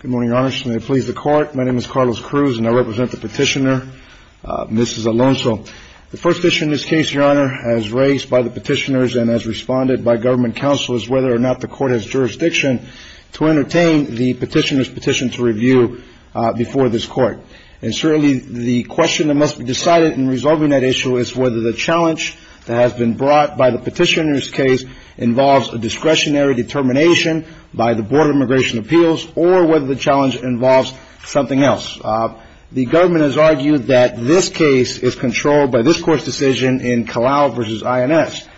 Good morning, Your Honor. May it please the Court, my name is Carlos Cruz and I represent the petitioner, Mrs. Alonso. The first issue in this case, Your Honor, as raised by the petitioners and as responded by government counselors, whether or not the Court has jurisdiction to entertain the petitioner's petition to review before this Court. And certainly the question that must be decided in resolving that issue is whether the challenge that has been brought by the petitioner's case involves a discretionary determination by the Board of Immigration Appeals or whether the challenge involves something else. The government has argued that this case is controlled by this Court's decision in Calau v. INS.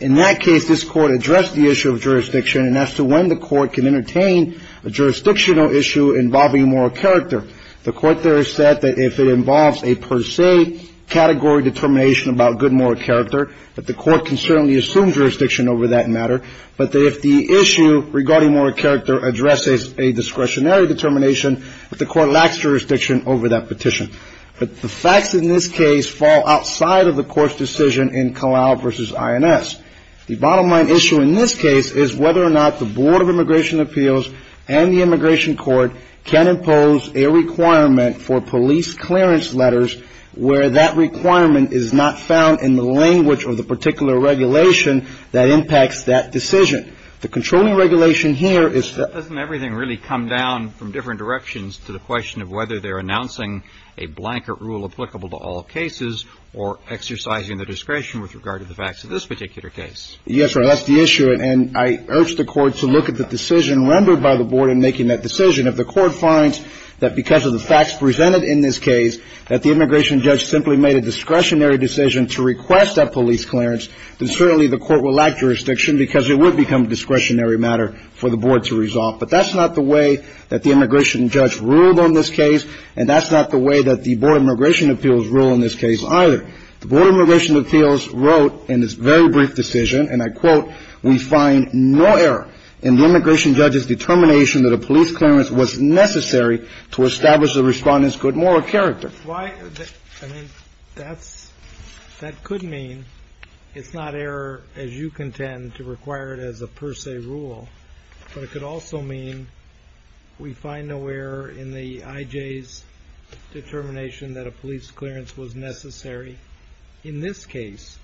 In that case, this Court addressed the issue of jurisdiction and as to when the Court can entertain a jurisdictional issue involving moral character. The Court there has said that if it involves a per se category determination about good moral character, that the Court can certainly assume jurisdiction over that matter. But if the issue regarding moral character addresses a discretionary determination, that the Court lacks jurisdiction over that petition. But the facts in this case fall outside of the Court's decision in Calau v. INS. The bottom line issue in this case is whether or not the Board of Immigration Appeals and the Immigration Court can impose a requirement for police clearance letters, where that requirement is not found in the language of the particular regulation that impacts that decision. The controlling regulation here is that — Doesn't everything really come down from different directions to the question of whether they're announcing a blanket rule applicable to all cases or exercising the discretion with regard to the facts of this particular case? Yes, that's the issue. And I urge the Court to look at the decision rendered by the Board in making that decision. If the Court finds that because of the facts presented in this case, that the immigration judge simply made a discretionary decision to request that police clearance, then certainly the Court will lack jurisdiction because it would become a discretionary matter for the Board to resolve. But that's not the way that the immigration judge ruled on this case, and that's not the way that the Board of Immigration Appeals ruled on this case either. The Board of Immigration Appeals wrote in this very brief decision, and I quote, we find no error in the immigration judge's determination that a police clearance was necessary to establish the Respondent's good moral character. Why — I mean, that's — that could mean it's not error, as you contend, to require it as a per se rule, but it could also mean we find no error in the I.J.'s determination that a police clearance was necessary in this case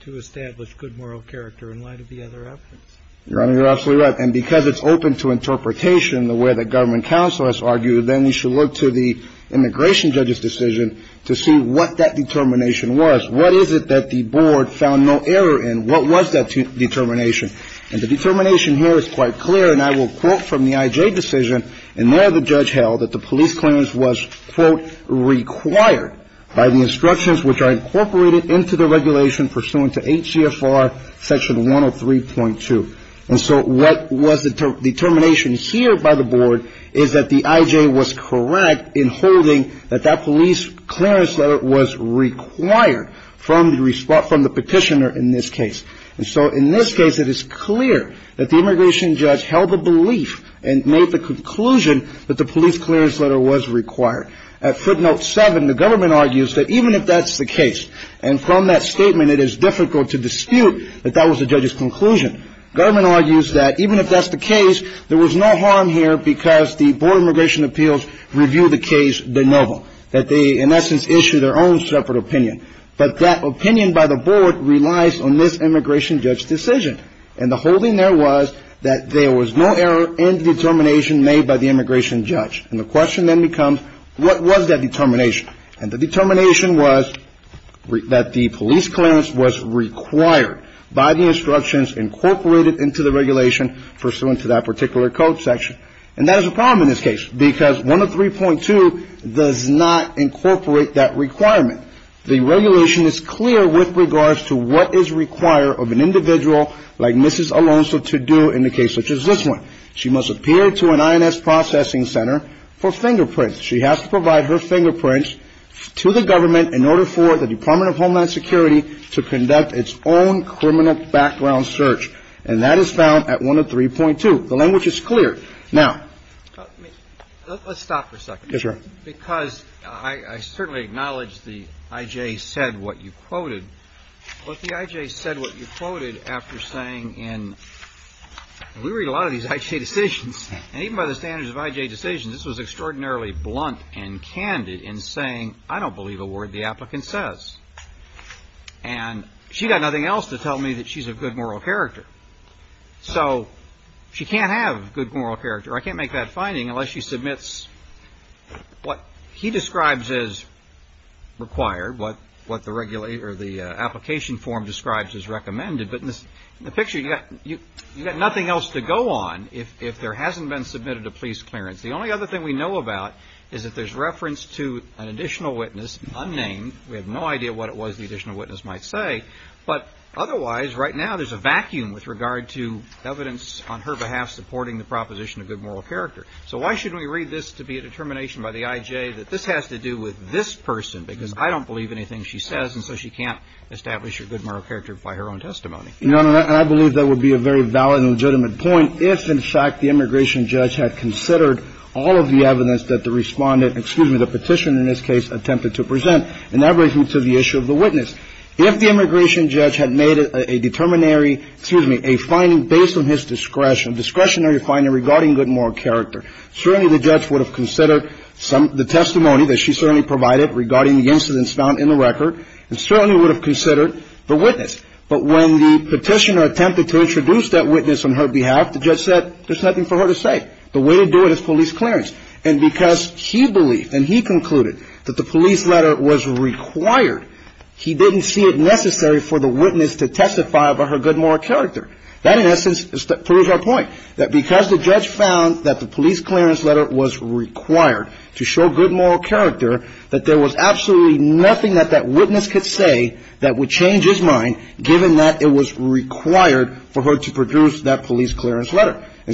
to establish good moral character in light of the other evidence. Your Honor, you're absolutely right. And because it's open to interpretation the way that government counsel has argued, then you should look to the immigration judge's decision to see what that determination was. What is it that the Board found no error in? What was that determination? And the determination here is quite clear, and I will quote from the I.J. decision, and there the judge held that the police clearance was, quote, required by the instructions which are incorporated into the regulation pursuant to H.G.F.R. Section 103.2. And so what was the determination here by the Board is that the I.J. was correct in holding that that police clearance letter was required from the petitioner in this case. And so in this case, it is clear that the immigration judge held the belief and made the conclusion that the police clearance letter was required. At footnote 7, the government argues that even if that's the case, and from that statement it is difficult to dispute that that was the judge's conclusion. Government argues that even if that's the case, there was no harm here because the Board of Immigration Appeals reviewed the case de novo, that they in essence issued their own separate opinion. But that opinion by the Board relies on this immigration judge's decision. And the holding there was that there was no error in the determination made by the immigration judge. And the question then becomes, what was that determination? And the determination was that the police clearance was required by the instructions incorporated into the regulation pursuant to that particular code section. And that is a problem in this case because 103.2 does not incorporate that requirement. The regulation is clear with regards to what is required of an individual like Mrs. Alonzo to do in a case such as this one. She must appear to an I.N.S. processing center for fingerprints. She has to provide her fingerprints to the to conduct its own criminal background search. And that is found at 103.2. The language is clear. Now, let's stop for a second. Yes, Your Honor. Because I certainly acknowledge the I.J. said what you quoted. But the I.J. said what you quoted after saying in we read a lot of these I.J. decisions, and even by the standards of I.J. decisions, this was extraordinarily blunt and candid in saying, I don't believe a word the applicant says. And she got nothing else to tell me that she's of good moral character. So she can't have good moral character. I can't make that finding unless she submits what he describes as required, what the application form describes as recommended. But in the picture, you got nothing else to go on if there hasn't been submitted a police clearance. The only other thing we know about is that there's reference to an additional witness, unnamed. We have no idea what it was the additional witness might say. But otherwise, right now, there's a vacuum with regard to evidence on her behalf supporting the proposition of good moral character. So why shouldn't we read this to be a determination by the I.J. that this has to do with this person, because I don't believe anything she says, and so she can't establish her good moral character by her own testimony? Your Honor, I believe that would be a very valid and legitimate point if, in fact, the immigration judge had considered all of the evidence that the Respondent – excuse me, the Petitioner, in this case, attempted to present. And that brings me to the issue of the witness. If the immigration judge had made a determinary – excuse me, a finding based on his discretion, discretionary finding regarding good moral character, certainly the judge would have considered some – the testimony that she certainly provided regarding the incidents found in the record, and certainly would have considered the witness. But when the Petitioner attempted to introduce that witness on her behalf, the judge said there's nothing for her to say. The way to do it is police clearance. And because he believed and he concluded that the police letter was required, he didn't see it necessary for the witness to testify about her good moral character. That, in essence, proves our point, that because the judge found that the police clearance letter was required to show good moral character, that there was absolutely nothing that that witness could say that would change his mind, given that it was And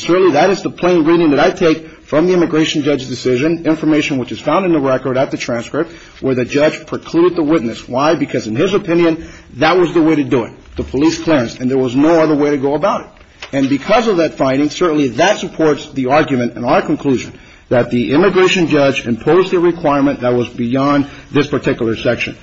certainly that is the plain reading that I take from the immigration judge's decision, information which is found in the record at the transcript, where the judge precluded the witness. Why? Because in his opinion, that was the way to do it, the police clearance. And there was no other way to go about it. And because of that finding, certainly that supports the argument and our conclusion that the immigration judge imposed a requirement that was beyond this particular section.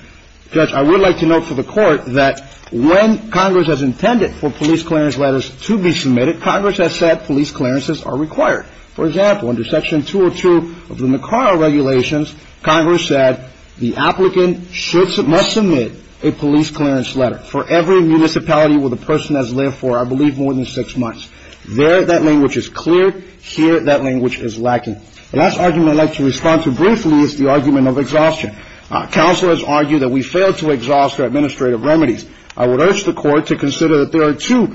Judge, I would like to note for the Court that when Congress has intended for police clearances, that police clearances are required. For example, under Section 202 of the Nicaragua regulations, Congress said the applicant must submit a police clearance letter for every municipality where the person has lived for, I believe, more than six months. There, that language is clear. Here, that language is lacking. The last argument I'd like to respond to briefly is the argument of exhaustion. Counselors argue that we fail to exhaust our administrative remedies. I would urge the Court to consider that there are two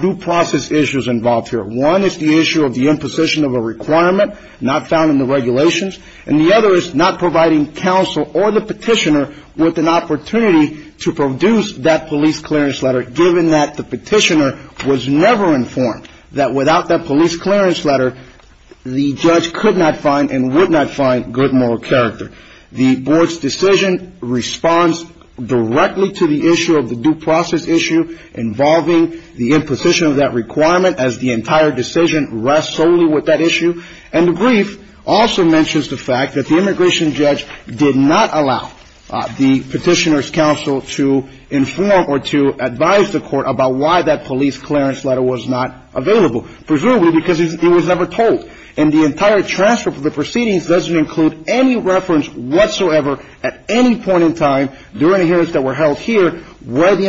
due process issues involved here. One is the issue of the imposition of a requirement not found in the regulations, and the other is not providing counsel or the petitioner with an opportunity to produce that police clearance letter, given that the petitioner was never informed that without that police clearance letter, the judge could not find and would not find good moral character. The Board's decision responds directly to the issue of the due process issue involving the imposition of that requirement, as the entire decision rests solely with that issue. And the brief also mentions the fact that the immigration judge did not allow the petitioner's counsel to inform or to advise the Court about why that police clearance letter was not available, presumably because it was never told. And the entire transcript of the proceedings doesn't include any reference whatsoever at any point in time during the hearings that were held here where the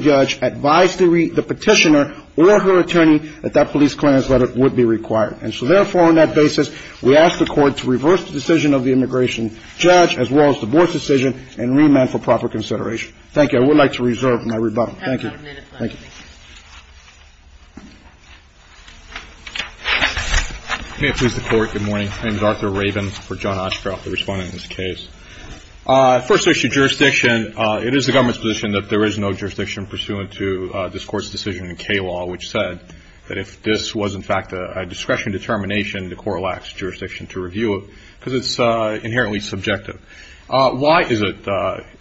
judge did not advise the petitioner or her attorney that that police clearance letter would be required. And so, therefore, on that basis, we ask the Court to reverse the decision of the immigration judge, as well as the Board's decision, and remand for proper consideration. Thank you. I would like to reserve my rebuttal. Thank you. Thank you. Can I please report? Good morning. My name is Arthur Rabin for John Oshkroft, the respondent in this case. First issue, jurisdiction, it is the government's position that there is no jurisdiction pursuant to this Court's decision in K-law, which said that if this was, in fact, a discretion determination, the court lacks jurisdiction to review it because it's inherently subjective. Why is it,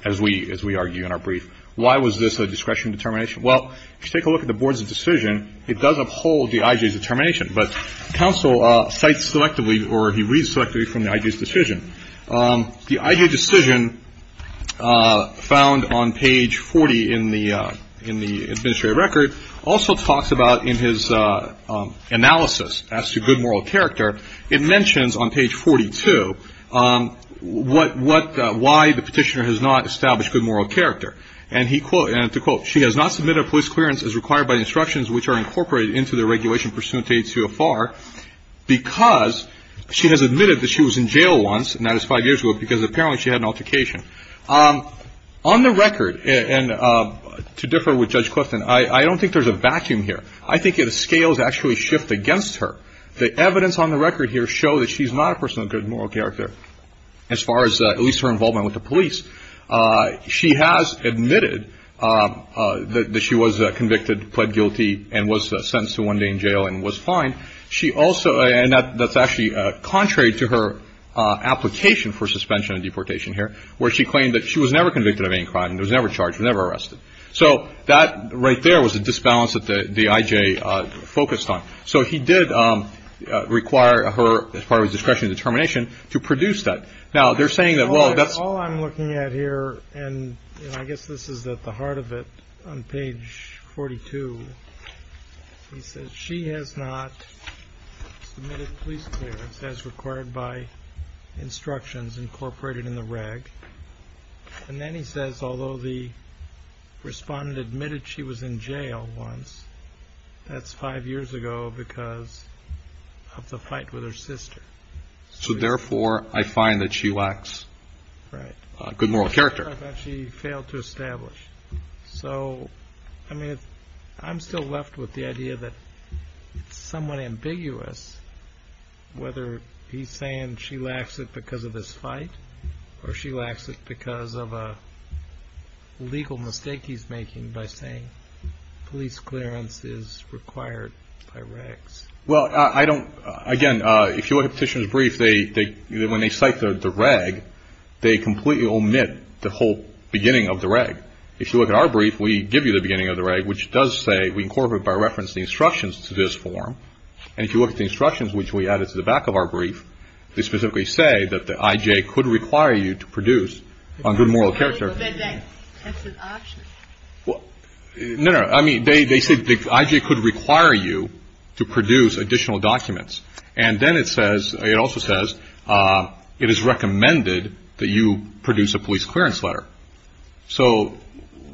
as we argue in our brief, why was this a discretion determination? Well, if you take a look at the Board's decision, it does uphold the IJ's determination, but counsel cites selectively or he reads selectively from the IJ's decision, found on page 40 in the administrative record, also talks about in his analysis as to good moral character, it mentions on page 42 why the petitioner has not established good moral character. And to quote, she has not submitted a police clearance as required by the instructions which are incorporated into the regulation pursuant to 82-FR because she has admitted that she was in jail once, and that is five years ago, because apparently she had an altercation. On the record, and to differ with Judge Clifton, I don't think there's a vacuum here. I think the scales actually shift against her. The evidence on the record here show that she's not a person of good moral character as far as at least her involvement with the police. She has admitted that she was convicted, pled guilty, and was sentenced to one day in jail and was fined. She also, and that's actually contrary to her application for suspension of deportation here, where she claimed that she was never convicted of any crime, was never charged, was never arrested. So that right there was a disbalance that the IJ focused on. So he did require her, as part of his discretionary determination, to produce that. Now, they're saying that, well, that's all I'm looking at here, and I guess this is at the heart of it. On page 42, he says, she has not submitted police clearance as required by instructions incorporated in the reg. And then he says, although the respondent admitted she was in jail once, that's five years ago because of the fight with her sister. So, therefore, I find that she lacks good moral character. She failed to establish. So, I mean, I'm still left with the idea that it's somewhat ambiguous whether he's saying she lacks it because of this fight or she lacks it because of a legal mistake he's making by saying police clearance is required by regs. Well, I don't, again, if you look at Petitioner's brief, when they cite the whole beginning of the reg, if you look at our brief, we give you the beginning of the reg, which does say we incorporate by reference the instructions to this form. And if you look at the instructions, which we added to the back of our brief, they specifically say that the IJ could require you to produce on good moral character. That's an option. No, no. I mean, they say the IJ could require you to produce additional documents. And then it says, it also says, it is recommended that you produce a police clearance letter. So,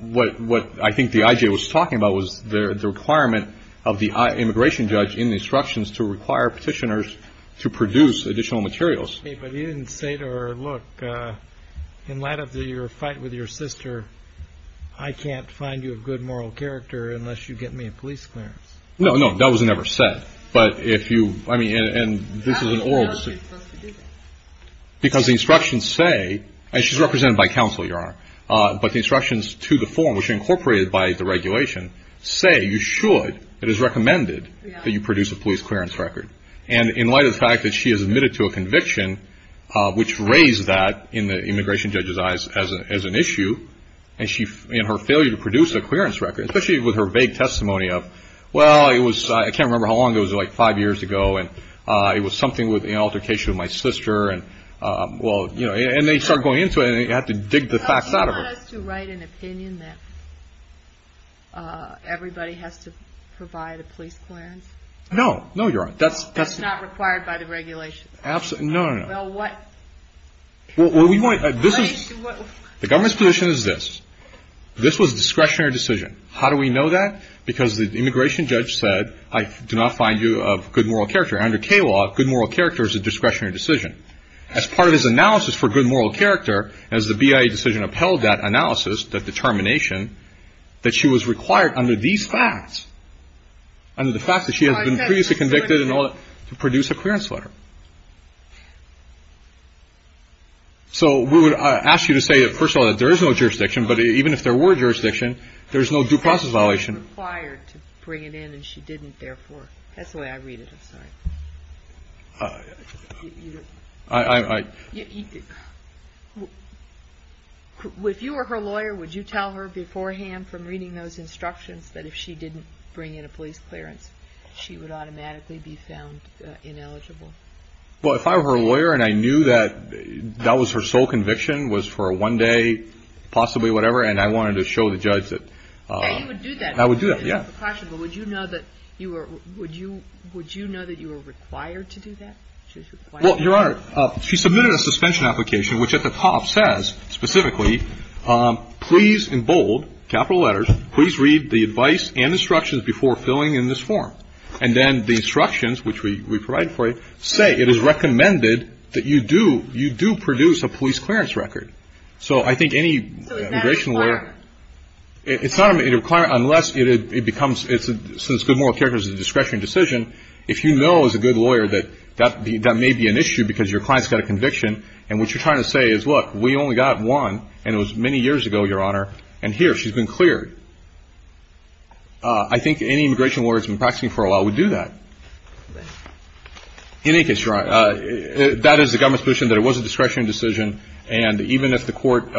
what I think the IJ was talking about was the requirement of the immigration judge in the instructions to require petitioners to produce additional materials. But you didn't say to her, look, in light of your fight with your sister, I can't find you a good moral character unless you get me a police clearance. No, no. That was never said. But if you, I mean, and this is an oral. How are you supposed to do that? Because the instructions say, and she's represented by counsel, Your Honor, but the instructions to the form, which are incorporated by the regulation, say you should, it is recommended that you produce a police clearance record. And in light of the fact that she has admitted to a conviction, which raised that in the immigration judge's eyes as an issue, and her failure to produce a clearance record, especially with her vague testimony of, well, I can't remember how long it was, like five years ago, and it was something with the altercation with my sister, and, well, you know. And they start going into it, and you have to dig the facts out of it. So you want us to write an opinion that everybody has to provide a police clearance? No. No, Your Honor. That's not required by the regulation. No, no, no. Well, what? Well, what we want, this is, the government's position is this. This was a discretionary decision. How do we know that? Because the immigration judge said, I do not find you of good moral character. Under K-law, good moral character is a discretionary decision. As part of his analysis for good moral character, as the BIA decision upheld that analysis, that determination, that she was required under these facts, under the fact that she has been previously convicted and all that, to produce a clearance letter. So we would ask you to say, first of all, that there is no jurisdiction, but even if there were jurisdiction, there's no due process violation. She was required to bring it in, and she didn't, therefore. That's the way I read it. I'm sorry. If you were her lawyer, would you tell her beforehand from reading those instructions that if she didn't bring in a police clearance, she would automatically be found ineligible? Well, if I were her lawyer and I knew that that was her sole conviction, was for one day, possibly whatever, and I wanted to show the judge that. Now, you would do that. I would do that, yeah. But would you know that you were required to do that? Well, Your Honor, she submitted a suspension application, which at the top says specifically, please, in bold, capital letters, please read the advice and instructions before filling in this form. And then the instructions, which we provided for you, say it is recommended that you do produce a police clearance record. So I think any immigration lawyer. So is that a requirement? It's not a requirement unless it becomes, since good moral character is a discretionary decision, if you know as a good lawyer that that may be an issue because your client's got a conviction, and what you're trying to say is, look, we only got one, and it was many years ago, Your Honor, and here, she's been cleared. I think any immigration lawyer that's been practicing for a while would do that. In any case, Your Honor, that is the government's position that it was a discretionary decision, and even if the court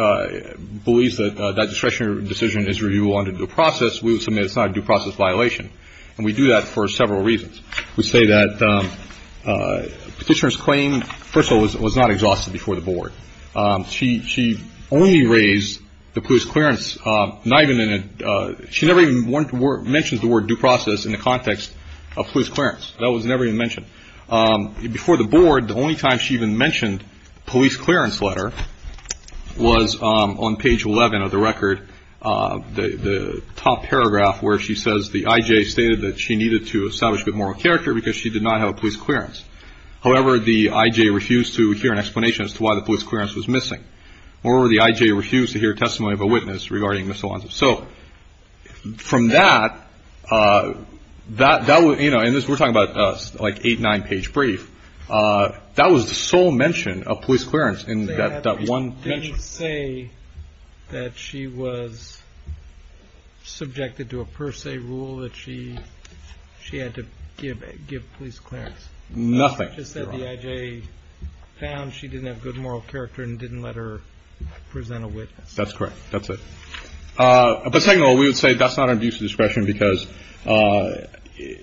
believes that that discretionary decision is reviewable under due process, we would submit it's not a due process violation. And we do that for several reasons. We say that Petitioner's claim, first of all, was not exhausted before the Board. She only raised the police clearance, not even in a, she never even mentions the word due process in the context of police clearance. That was never even mentioned. Before the Board, the only time she even mentioned police clearance letter was on page 11 of the record, the top paragraph where she says the I.J. stated that she needed to establish good moral character because she did not have a police clearance. However, the I.J. refused to hear an explanation as to why the police clearance was missing. Moreover, the I.J. refused to hear testimony of a witness regarding miscellaneous. So from that, that was, you know, and we're talking about like eight, nine-page brief. That was the sole mention of police clearance in that one mention. They didn't say that she was subjected to a per se rule, that she had to give police clearance. Nothing. Just that the I.J. found she didn't have good moral character and didn't let her present a witness. That's correct. That's it. But second of all, we would say that's not an abuse of discretion because the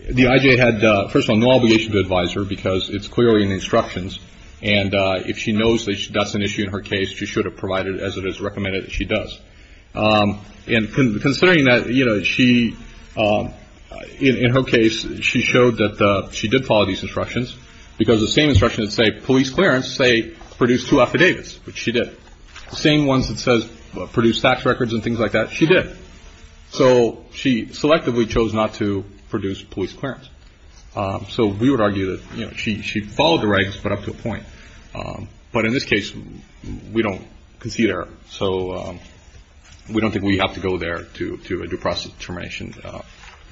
I.J. had, first of all, no obligation to advise her because it's clearly in the instructions. And if she knows that that's an issue in her case, she should have provided as it is recommended that she does. And considering that, you know, she, in her case, she showed that she did follow these instructions because the same instructions say police clearance, say, produced two affidavits, which she did. The same ones that says produced tax records and things like that, she did. So she selectively chose not to produce police clearance. So we would argue that, you know, she followed the regs, but up to a point. But in this case, we don't concede error. So we don't think we have to go there to a due process determination.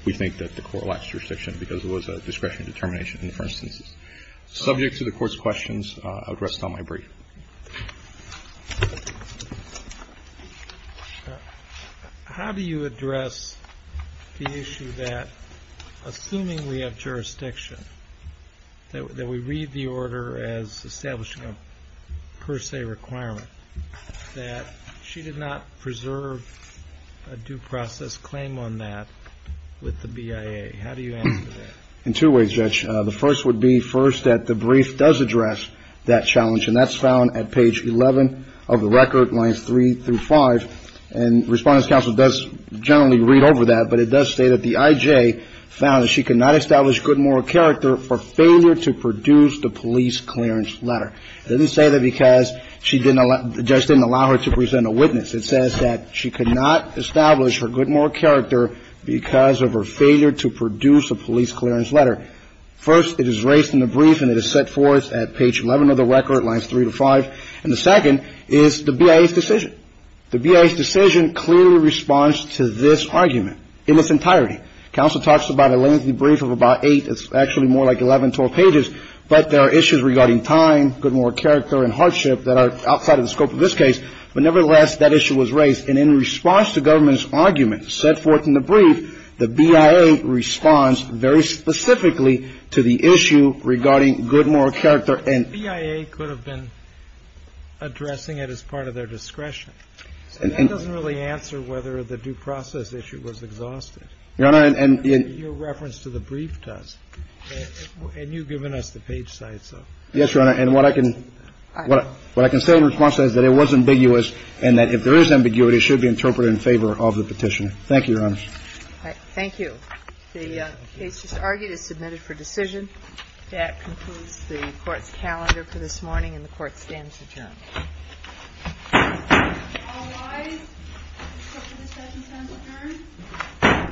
We think that the court lacks jurisdiction because it was a discretionary determination in the first instance. Subject to the court's questions, I would rest on my brief. How do you address the issue that, assuming we have jurisdiction, that we read the order as establishing a per se requirement, that she did not preserve a due process claim on that with the BIA? How do you answer that? In two ways, Judge. The first would be, first, that the brief does address that challenge. And that's found at page 11 of the record, lines 3 through 5. And Respondents' Counsel does generally read over that. But it does say that the I.J. found that she could not establish good moral character for failure to produce the police clearance letter. It doesn't say that because she didn't allow the judge didn't allow her to present a witness. It says that she could not establish her good moral character because of her failure to produce a police clearance letter. First, it is raised in the brief and it is set forth at page 11 of the record, lines 3 to 5. And the second is the BIA's decision. The BIA's decision clearly responds to this argument in its entirety. Counsel talks about a lengthy brief of about eight. It's actually more like 11, 12 pages. But there are issues regarding time, good moral character and hardship that are outside of the scope of this case. But nevertheless, that issue was raised. And in response to government's argument set forth in the brief, the BIA responds very specifically to the issue regarding good moral character. And the BIA could have been addressing it as part of their discretion. So that doesn't really answer whether the due process issue was exhausted. Your Honor, and your reference to the brief does. And you've given us the page sites of it. Yes, Your Honor. And what I can say in response is that it was ambiguous and that if there is ambiguity, it should be interpreted in favor of the petition. Thank you, Your Honor. Thank you. The case just argued is submitted for decision. That concludes the Court's calendar for this morning, and the Court stands adjourned. All rise. The Court is adjourned. Thank you. Thank you.